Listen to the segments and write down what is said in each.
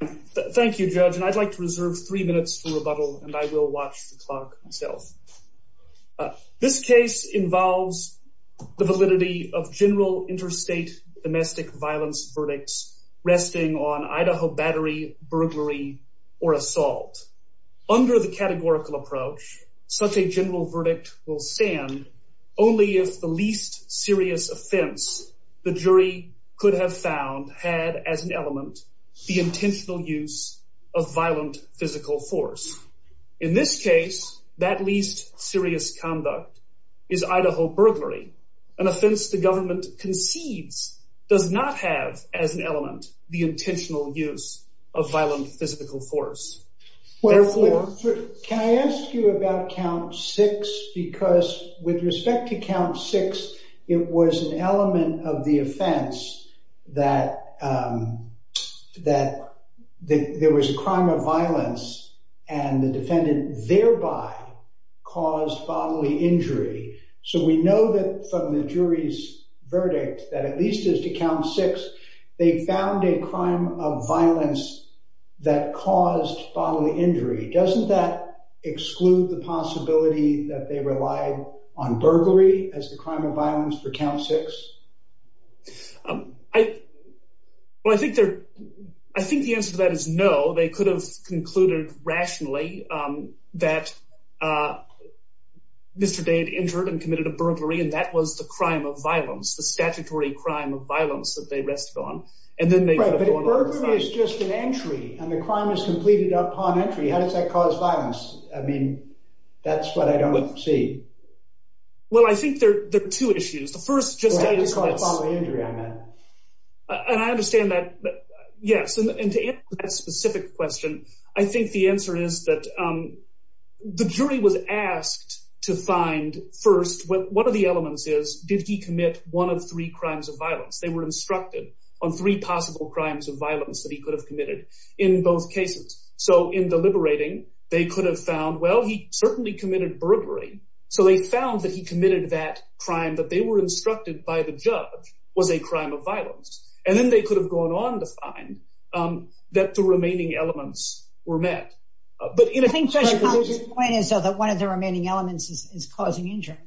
Thank you, Judge, and I'd like to reserve three minutes for rebuttal, and I will watch the clock myself. This case involves the validity of general interstate domestic violence verdicts resting on Idaho battery, burglary, or assault. Under the categorical approach, such a general verdict will stand only if the least serious offense the jury could have found had as an element the intentional use of violent physical force. In this case, that least serious conduct is Idaho burglary, an offense the government concedes does not have as an element the intentional use of violent physical force. Can I ask you about count six? Because with respect to count six, it was an element of the offense that there was a crime of violence, and the defendant thereby caused bodily injury. So we know that from the jury's verdict that at least as to count six, they found a crime of violence that caused bodily injury. Doesn't that exclude the possibility that they relied on burglary as the crime of violence for count six? Well, I think the answer to that is no. They could have concluded rationally that Mr. Day had injured and committed a burglary, and that was the crime of violence, the statutory crime of violence that they rested on. Right, but a burglary is just an entry, and the crime is completed upon entry. How does that cause violence? I mean, that's what I don't see. Well, I think there are two issues. The first just… Right, just bodily injury, I meant. And I understand that, yes. And to answer that specific question, I think the answer is that the jury was asked to find, first, what are the elements is, did he commit one of three crimes of violence? They were instructed on three possible crimes of violence that he could have committed in both cases. So in deliberating, they could have found, well, he certainly committed burglary, so they found that he committed that crime that they were instructed by the judge was a crime of violence. And then they could have gone on to find that the remaining elements were met. I think Judge Collins' point is that one of the remaining elements is causing injury.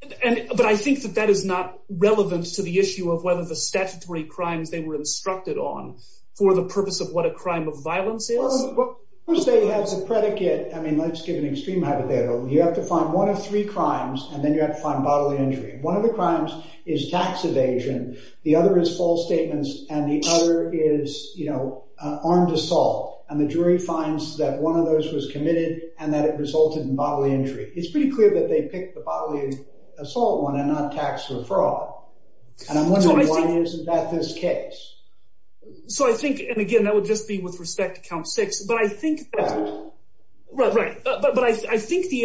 But I think that that is not relevant to the issue of whether the statutory crimes they were instructed on for the purpose of what a crime of violence is. Well, let's say he has a predicate. I mean, let's give an extreme hypothetical. You have to find one of three crimes, and then you have to find bodily injury. One of the crimes is tax evasion, the other is false statements, and the other is, you know, armed assault. And the jury finds that one of those was committed and that it resulted in bodily injury. It's pretty clear that they picked the bodily assault one and not tax or fraud. And I'm wondering why isn't that this case? So I think, and again, that would just be with respect to count six, but I think the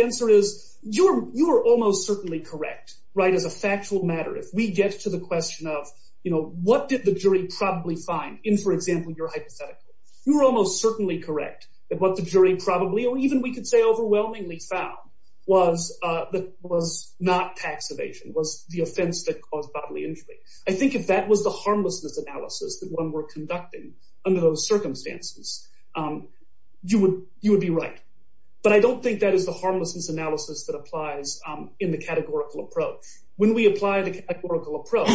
answer is you're almost certainly correct, right, as a factual matter. If we get to the question of, you know, what did the jury probably find in, for example, your hypothetical, you're almost certainly correct that what the jury probably or even we could say overwhelmingly found was not tax evasion, was the offense that caused bodily injury. I think if that was the harmlessness analysis that one were conducting under those circumstances, you would be right. But I don't think that is the harmlessness analysis that applies in the categorical approach. When we apply the categorical approach,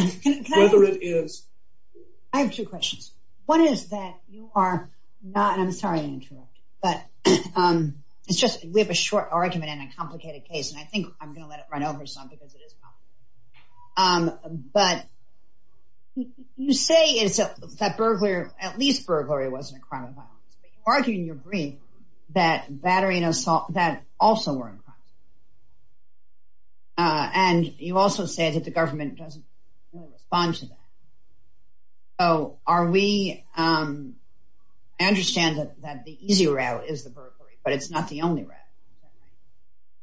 whether it is… I have two questions. One is that you are not, and I'm sorry to interrupt, but it's just we have a short argument in a complicated case, and I think I'm going to let it run over some because it is complicated. But you say that at least burglary wasn't a crime of violence, but you argue in your brief that battery and assault, that also weren't crimes. And you also say that the government doesn't respond to that. So are we… I understand that the easy route is the burglary, but it's not the only route.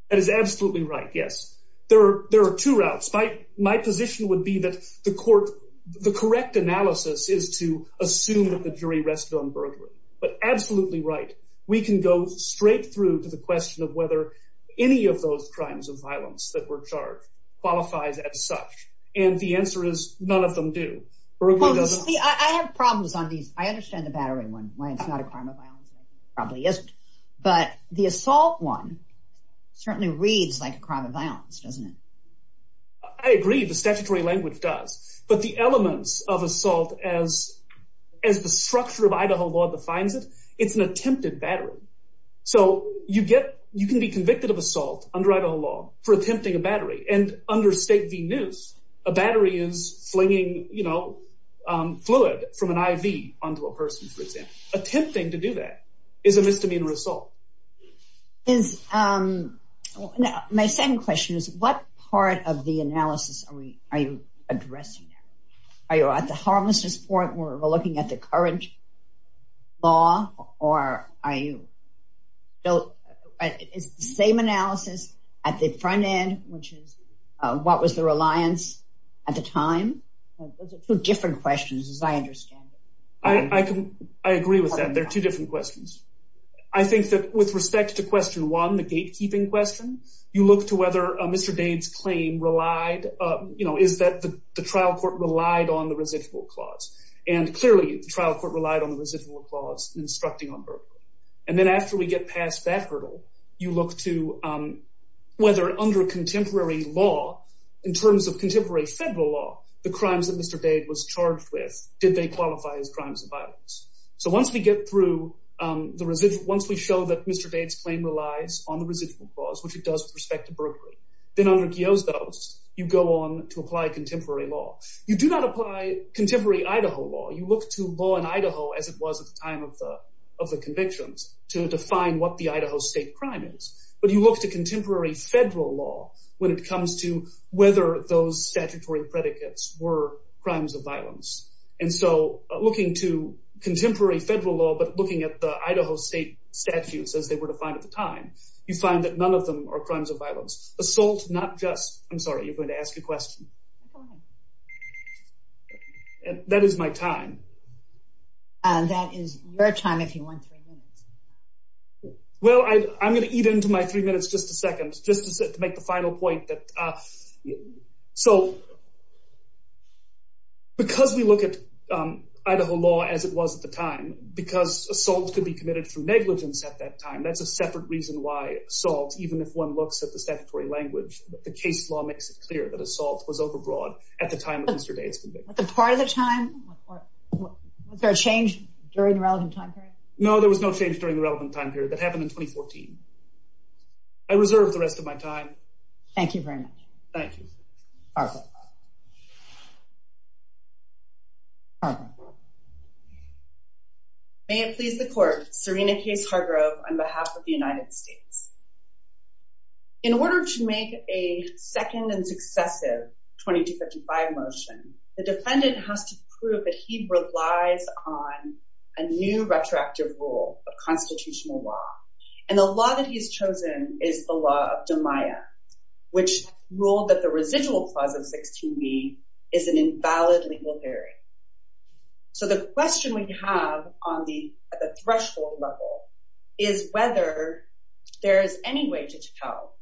That is absolutely right, yes. There are two routes. My position would be that the court, the correct analysis is to assume that the jury rested on burglary. But absolutely right, we can go straight through to the question of whether any of those crimes of violence that were charged qualifies as such. And the answer is none of them do. I have problems on these. I understand the battery one, why it's not a crime of violence. It probably isn't. But the assault one certainly reads like a crime of violence, doesn't it? I agree. The statutory language does. But the elements of assault, as the structure of Idaho law defines it, it's an attempted battery. So you can be convicted of assault under Idaho law for attempting a battery. And under state v. noose, a battery is flinging fluid from an IV onto a person, for example. Attempting to do that is a misdemeanor assault. My second question is, what part of the analysis are you addressing? Are you at the harmlessness point where we're looking at the current law? Is the same analysis at the front end, which is what was the reliance at the time? Those are two different questions, as I understand it. I agree with that. They're two different questions. I think that with respect to question one, the gatekeeping question, you look to whether Mr. Dade's claim is that the trial court relied on the residual clause. So once we get through, once we show that Mr. Dade's claim relies on the residual clause, which it does with respect to burglary, then under Giosdo's, you go on to apply contemporary law. You do not apply contemporary Idaho law. You look to law in Idaho, as it was at the time of the convictions, to define what the Idaho state crime is. But you look to contemporary federal law when it comes to whether those statutory predicates were crimes of violence. And so looking to contemporary federal law, but looking at the Idaho state statutes as they were defined at the time, you find that none of them are crimes of violence. Assault, not just, I'm sorry, you're going to ask a question. Go ahead. That is my time. That is your time if you want three minutes. Well, I'm going to eat into my three minutes, just a second, just to make the final point. Because we look at Idaho law as it was at the time, because assault could be committed through negligence at that time, that's a separate reason why assault, even if one looks at the statutory language, the case law makes it clear that assault was overbroad at the time of Mr. Dade's conviction. Was there a change during the relevant time period? No, there was no change during the relevant time period. That happened in 2014. I reserve the rest of my time. Thank you very much. Thank you. May it please the court, Serena Case Hargrove on behalf of the United States. In order to make a second and successive 2255 motion, the defendant has to prove that he relies on a new retroactive rule of constitutional law. And the law that he's chosen is the law of DeMaia, which ruled that the residual clause of 16b is an invalid legal theory. So the question we have at the threshold level is whether there is any way to tell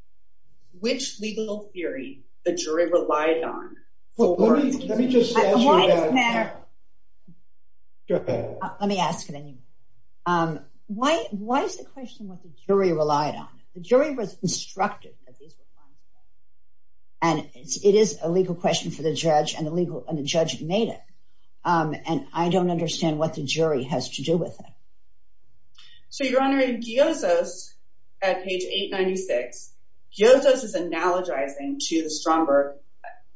which legal theory the jury relied on. Let me just answer that. Let me ask it anyway. Why is the question what the jury relied on? The jury was instructed. And it is a legal question for the judge and the judge made it. And I don't understand what the jury has to do with it. So, Your Honor, in Giosos, at page 896, Giosos is analogizing to the Stromberg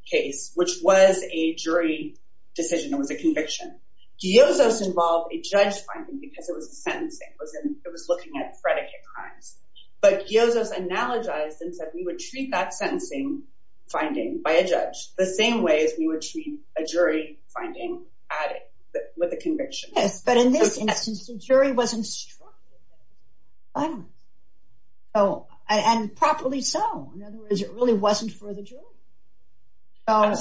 case, which was a jury decision. It was a conviction. Giosos involved a judge finding because it was a sentencing. It was looking at predicate crimes. But Giosos analogized and said we would treat that sentencing finding by a judge the same way as we would treat a jury finding with a conviction. Yes, but in this instance, the jury was instructed. And properly so. In other words, it really wasn't for the jury. What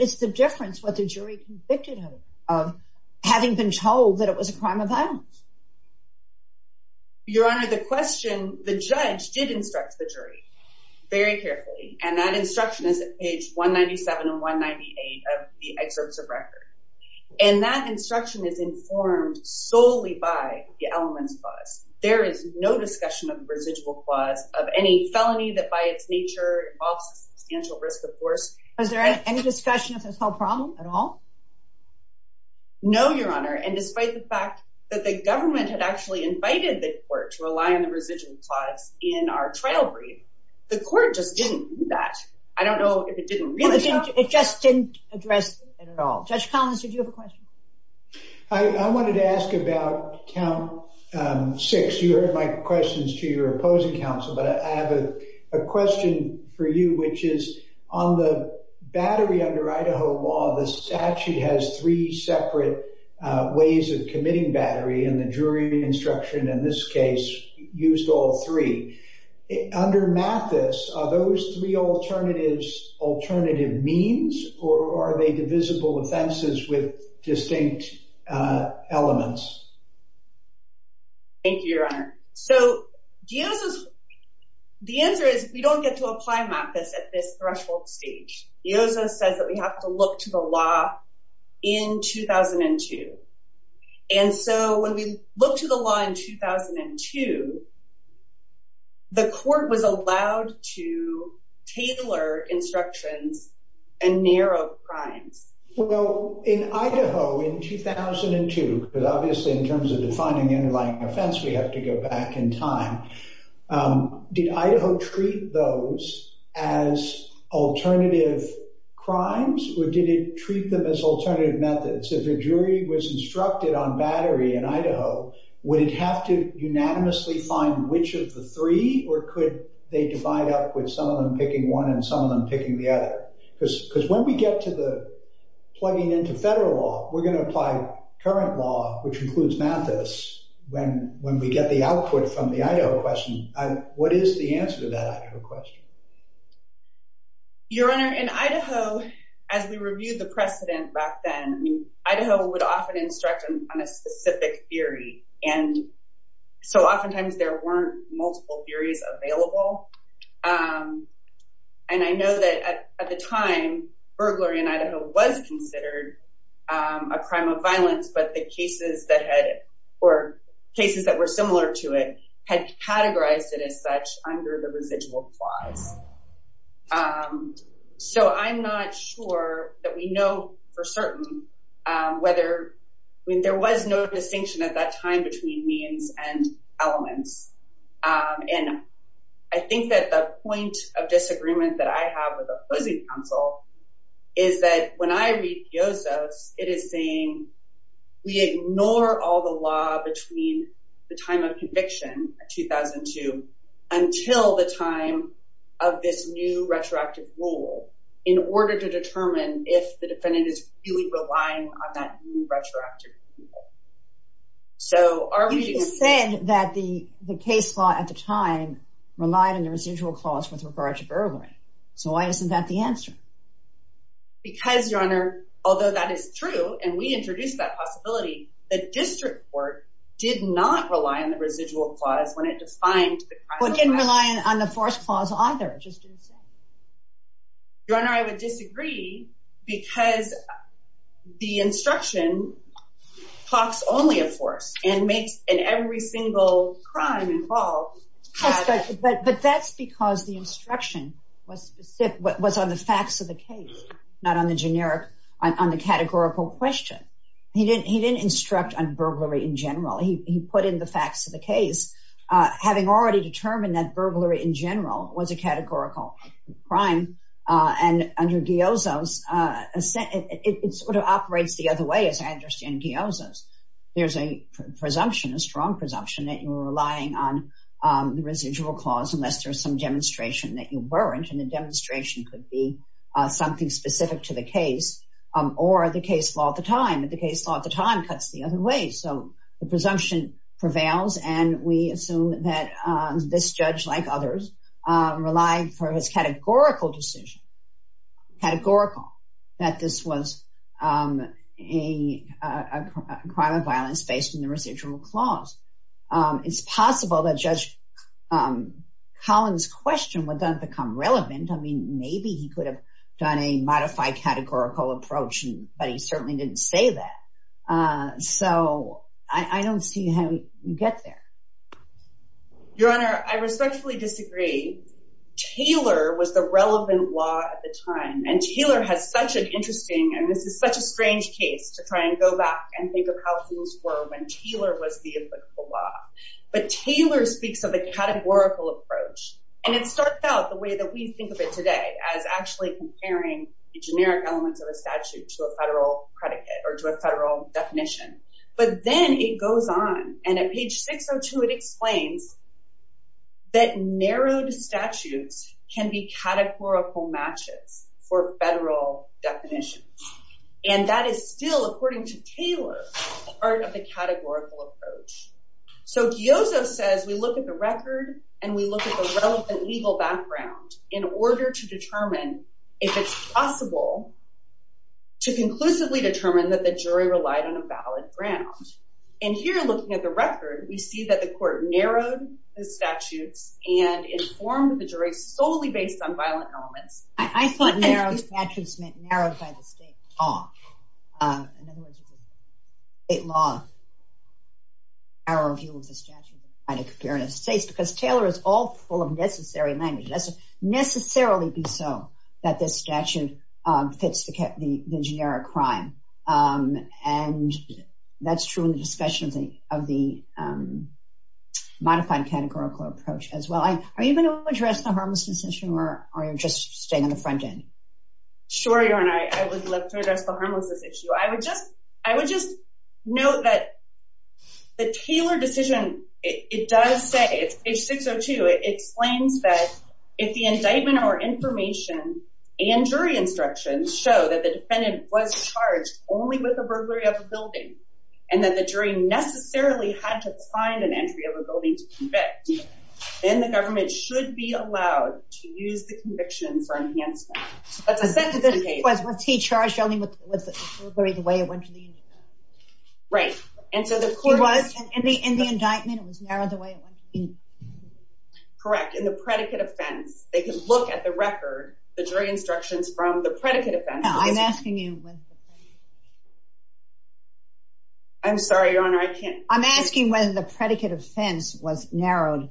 is the difference what the jury convicted of having been told that it was a crime of violence? Your Honor, the question, the judge did instruct the jury very carefully. And that instruction is at page 197 and 198 of the excerpts of record. And that instruction is informed solely by the elements clause. There is no discussion of residual clause of any felony that by its nature involves substantial risk, of course. Was there any discussion of this whole problem at all? No, Your Honor. And despite the fact that the government had actually invited the court to rely on the residual clause in our trial brief, the court just didn't do that. I don't know if it didn't really. It just didn't address it at all. Judge Collins, did you have a question? I wanted to ask about count six. You heard my questions to your opposing counsel. But I have a question for you, which is on the battery under Idaho law, the statute has three separate ways of committing battery. And the jury instruction in this case used all three. Under Mathis, are those three alternatives alternative means or are they divisible offenses with distinct elements? Thank you, Your Honor. So the answer is we don't get to apply Mathis at this threshold stage. Yoza says that we have to look to the law in 2002. And so when we look to the law in 2002, the court was allowed to tailor instructions and narrow crimes. Well, in Idaho in 2002, because obviously in terms of defining the underlying offense, we have to go back in time. Did Idaho treat those as alternative crimes or did it treat them as alternative methods? If a jury was instructed on battery in Idaho, would it have to unanimously find which of the three or could they divide up with some of them picking one and some of them picking the other? Because when we get to the plugging into federal law, we're going to apply current law, which includes Mathis. When we get the output from the Idaho question, what is the answer to that question? Your Honor, in Idaho, as we reviewed the precedent back then, Idaho would often instruct on a specific theory. And so oftentimes there weren't multiple theories available. And I know that at the time, burglary in Idaho was considered a crime of violence, but the cases that had or cases that were similar to it had categorized it as such under the residual clause. So I'm not sure that we know for certain whether there was no distinction at that time between means and elements. And I think that the point of disagreement that I have with opposing counsel is that when I read Piozo's, it is saying we ignore all the law between the time of conviction in 2002 until the time of this new retroactive rule in order to determine if the defendant is really relying on that new retroactive rule. So are we... You said that the case law at the time relied on the residual clause with regard to burglary. So why isn't that the answer? Because, Your Honor, although that is true, and we introduced that possibility, the district court did not rely on the residual clause when it defined the crime of violence. Well, it didn't rely on the first clause either. Your Honor, I would disagree because the instruction talks only of force and makes every single crime involved... But that's because the instruction was on the facts of the case, not on the categorical question. He didn't instruct on burglary in general. He put in the facts of the case. Having already determined that burglary in general was a categorical crime and under Piozo's, it sort of operates the other way, as I understand Piozo's. There's a presumption, a strong presumption, that you're relying on the residual clause unless there's some demonstration that you weren't. And the demonstration could be something specific to the case or the case law at the time. But the case law at the time cuts the other way. So the presumption prevails, and we assume that this judge, like others, relied for his categorical decision, categorical, that this was a crime of violence based on the residual clause. It's possible that Judge Collins' question would then become relevant. I mean, maybe he could have done a modified categorical approach, but he certainly didn't say that. So I don't see how you get there. Your Honor, I respectfully disagree. Taylor was the relevant law at the time, and Taylor has such an interesting, and this is such a strange case to try and go back and think of how things were when Taylor was the applicable law. But Taylor speaks of a categorical approach, and it starts out the way that we think of it today, as actually comparing the generic elements of a statute to a federal predicate or to a federal definition. But then it goes on, and at page 602, it explains that narrowed statutes can be categorical matches for federal definitions. And that is still, according to Taylor, part of the categorical approach. So Giozo says we look at the record and we look at the relevant legal background in order to determine if it's possible to conclusively determine that the jury relied on a valid ground. And here, looking at the record, we see that the court narrowed the statutes and informed the jury solely based on violent elements. I thought narrowed statutes meant narrowed by the state law. In other words, the state law narrowed the view of the statute by comparing the states, because Taylor is all full of necessary language. It has to necessarily be so that this statute fits the generic crime. And that's true in the discussion of the modified categorical approach as well. Are you going to address the harmlessness issue, or are you just staying on the front end? Sure, Your Honor. I would love to address the harmlessness issue. I would just note that the Taylor decision, it does say, it's page 602, it explains that if the indictment or information and jury instructions show that the defendant was charged only with the burglary of a building, and that the jury necessarily had to find an entry of a building to convict, then the government should be allowed to use the conviction for enhancement. But to set the case... Was he charged only with the burglary the way it went to the indictment? Right. And so the court... He was? In the indictment, it was narrowed the way it went to the indictment? Correct. In the predicate offense, they could look at the record, the jury instructions from the predicate offense... I'm asking you... I'm sorry, Your Honor, I can't... I'm asking whether the predicate offense was narrowed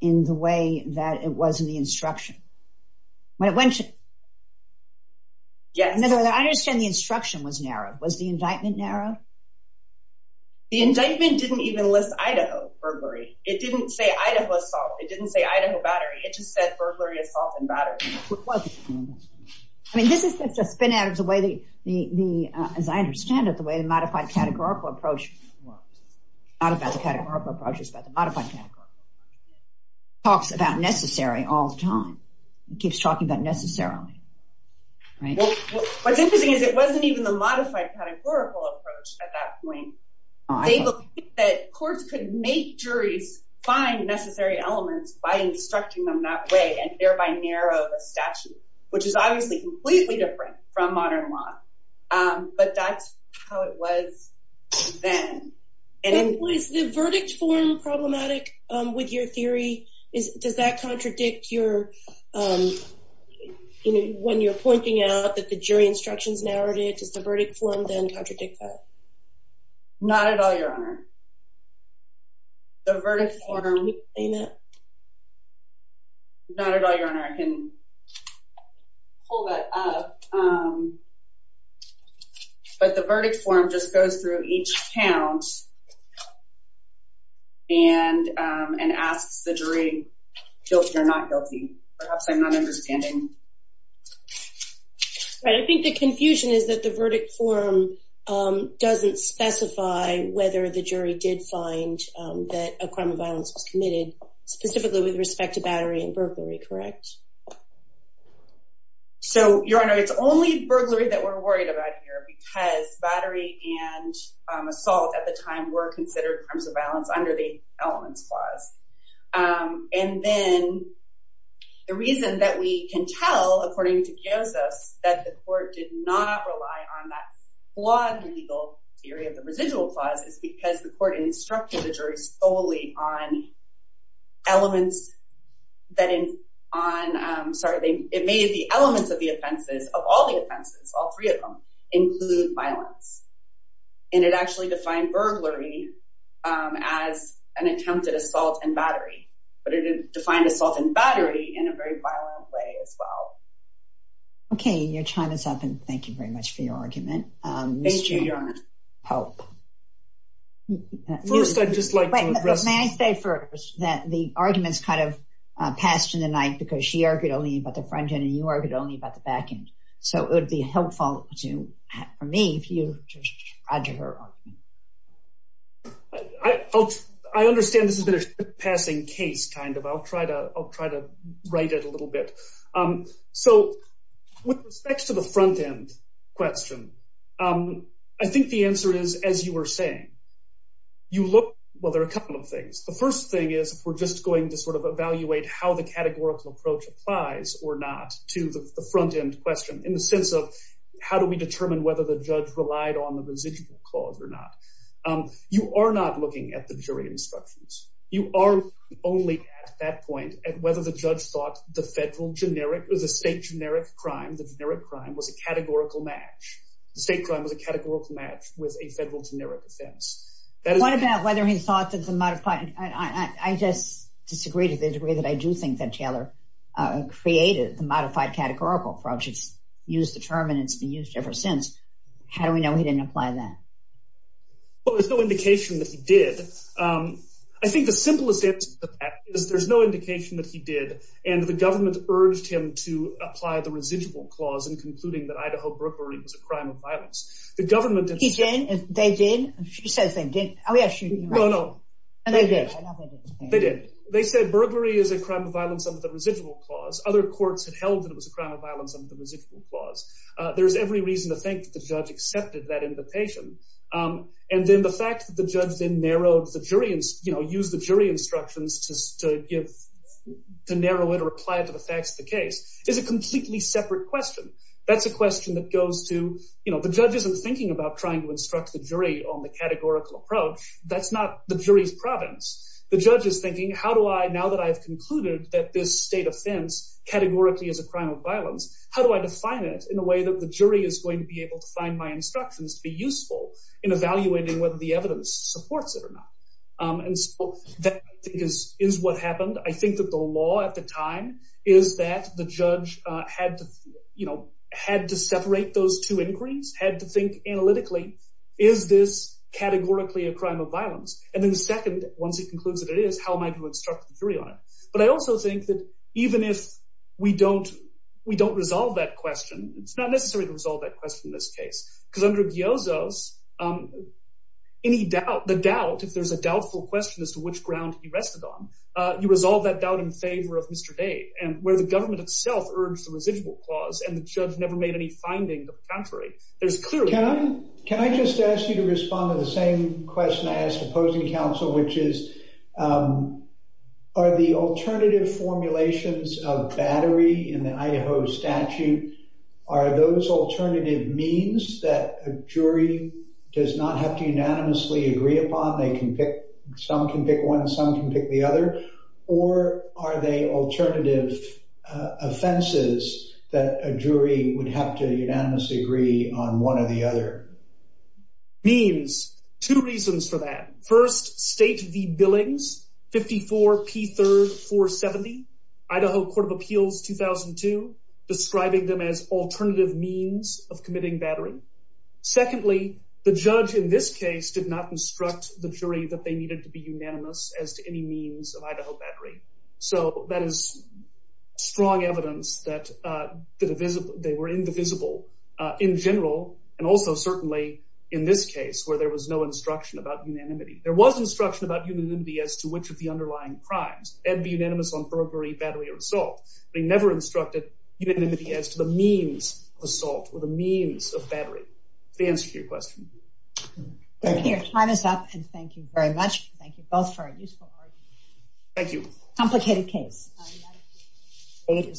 in the way that it was in the instruction. Yes. I understand the instruction was narrowed. Was the indictment narrowed? The indictment didn't even list Idaho burglary. It didn't say Idaho assault. It didn't say Idaho battery. It just said burglary, assault, and battery. I mean, this is just a spin-out of the way the, as I understand it, the way the modified categorical approach works. It's not about the categorical approach. It's about the modified categorical approach. It talks about necessary all the time. It keeps talking about necessarily. What's interesting is it wasn't even the modified categorical approach at that point. They believed that courts could make juries find necessary elements by instructing them that way and thereby narrow the statute, which is obviously completely different from modern law. But that's how it was then. Was the verdict form problematic with your theory? Does that contradict your... When you're pointing out that the jury instructions narrowed it, does the verdict form then contradict that? Not at all, Your Honor. The verdict form... Not at all, Your Honor. I can pull that up. But the verdict form just goes through each count and asks the jury if they're guilty or not guilty. Perhaps I'm not understanding. I think the confusion is that the verdict form doesn't specify whether the jury did find that a crime of violence was committed, specifically with respect to battery and burglary, correct? So, Your Honor, it's only burglary that we're worried about here because battery and assault at the time were considered crimes of violence under the Elements Clause. And then the reason that we can tell, according to Chiosos, that the court did not rely on that flawed legal theory of the residual clause is because the court instructed the jury solely on elements... Sorry, it made the elements of the offenses, of all the offenses, all three of them, include violence. And it actually defined burglary as an attempt at assault and battery, but it defined assault and battery in a very violent way as well. Okay, your time is up, and thank you very much for your argument, Mr. Pope. Thank you, Your Honor. First, I'd just like to address... May I say first that the arguments kind of passed in the night because she argued only about the front end and you argued only about the back end. So it would be helpful for me if you just add to her argument. I understand this has been a passing case, kind of. I'll try to write it a little bit. So with respect to the front end question, I think the answer is, as you were saying, you look... Well, there are a couple of things. The first thing is we're just going to sort of evaluate how the categorical approach applies or not to the front end question in the sense of how do we determine whether the judge relied on the residual clause or not. You are not looking at the jury instructions. You are only at that point at whether the judge thought the federal generic or the state generic crime, the generic crime, was a categorical match. The state crime was a categorical match with a federal generic offense. What about whether he thought that the modified... I just disagree to the degree that I do think that Taylor created the modified categorical approach. It's used the term and it's been used ever since. How do we know he didn't apply that? Well, there's no indication that he did. I think the simplest answer to that is there's no indication that he did. And the government urged him to apply the residual clause in concluding that Idaho burglary was a crime of violence. He did. They did. She says they did. Oh, yes, she did. No, no. And they did. They did. They said burglary is a crime of violence under the residual clause. Other courts had held that it was a crime of violence under the residual clause. There's every reason to think that the judge accepted that invitation. And then the fact that the judge then used the jury instructions to narrow it or apply it to the facts of the case is a completely separate question. That's a question that goes to the judge isn't thinking about trying to instruct the jury on the categorical approach. That's not the jury's province. The judge is thinking, how do I, now that I've concluded that this state offense categorically is a crime of violence, how do I define it? In a way that the jury is going to be able to find my instructions to be useful in evaluating whether the evidence supports it or not. And so that, I think, is what happened. I think that the law at the time is that the judge had to separate those two inquiries, had to think analytically, is this categorically a crime of violence? And then the second, once he concludes that it is, how am I to instruct the jury on it? But I also think that even if we don't resolve that question, it's not necessary to resolve that question in this case. Because under Giozo's, any doubt, the doubt, if there's a doubtful question as to which ground he rested on, you resolve that doubt in favor of Mr. Dave. And where the government itself urged the residual clause and the judge never made any finding to the contrary, there's clearly— Can I just ask you to respond to the same question I asked opposing counsel, which is, are the alternative formulations of battery in the Idaho statute, are those alternative means that a jury does not have to unanimously agree upon? They can pick—some can pick one, some can pick the other. Or are they alternative offenses that a jury would have to unanimously agree on one or the other? Means. Two reasons for that. First, state the billings, 54P3-470, Idaho Court of Appeals, 2002, describing them as alternative means of committing battery. Secondly, the judge in this case did not instruct the jury that they needed to be unanimous as to any means of Idaho battery. So that is strong evidence that they were indivisible in general, and also certainly in this case where there was no instruction about unanimity. There was instruction about unanimity as to which of the underlying crimes. And be unanimous on burglary, battery, or assault. But he never instructed unanimity as to the means of assault or the means of battery. Does that answer your question? Thank you. Your time is up, and thank you very much. Thank you both for a useful argument. Thank you. Complicated case. Thank you.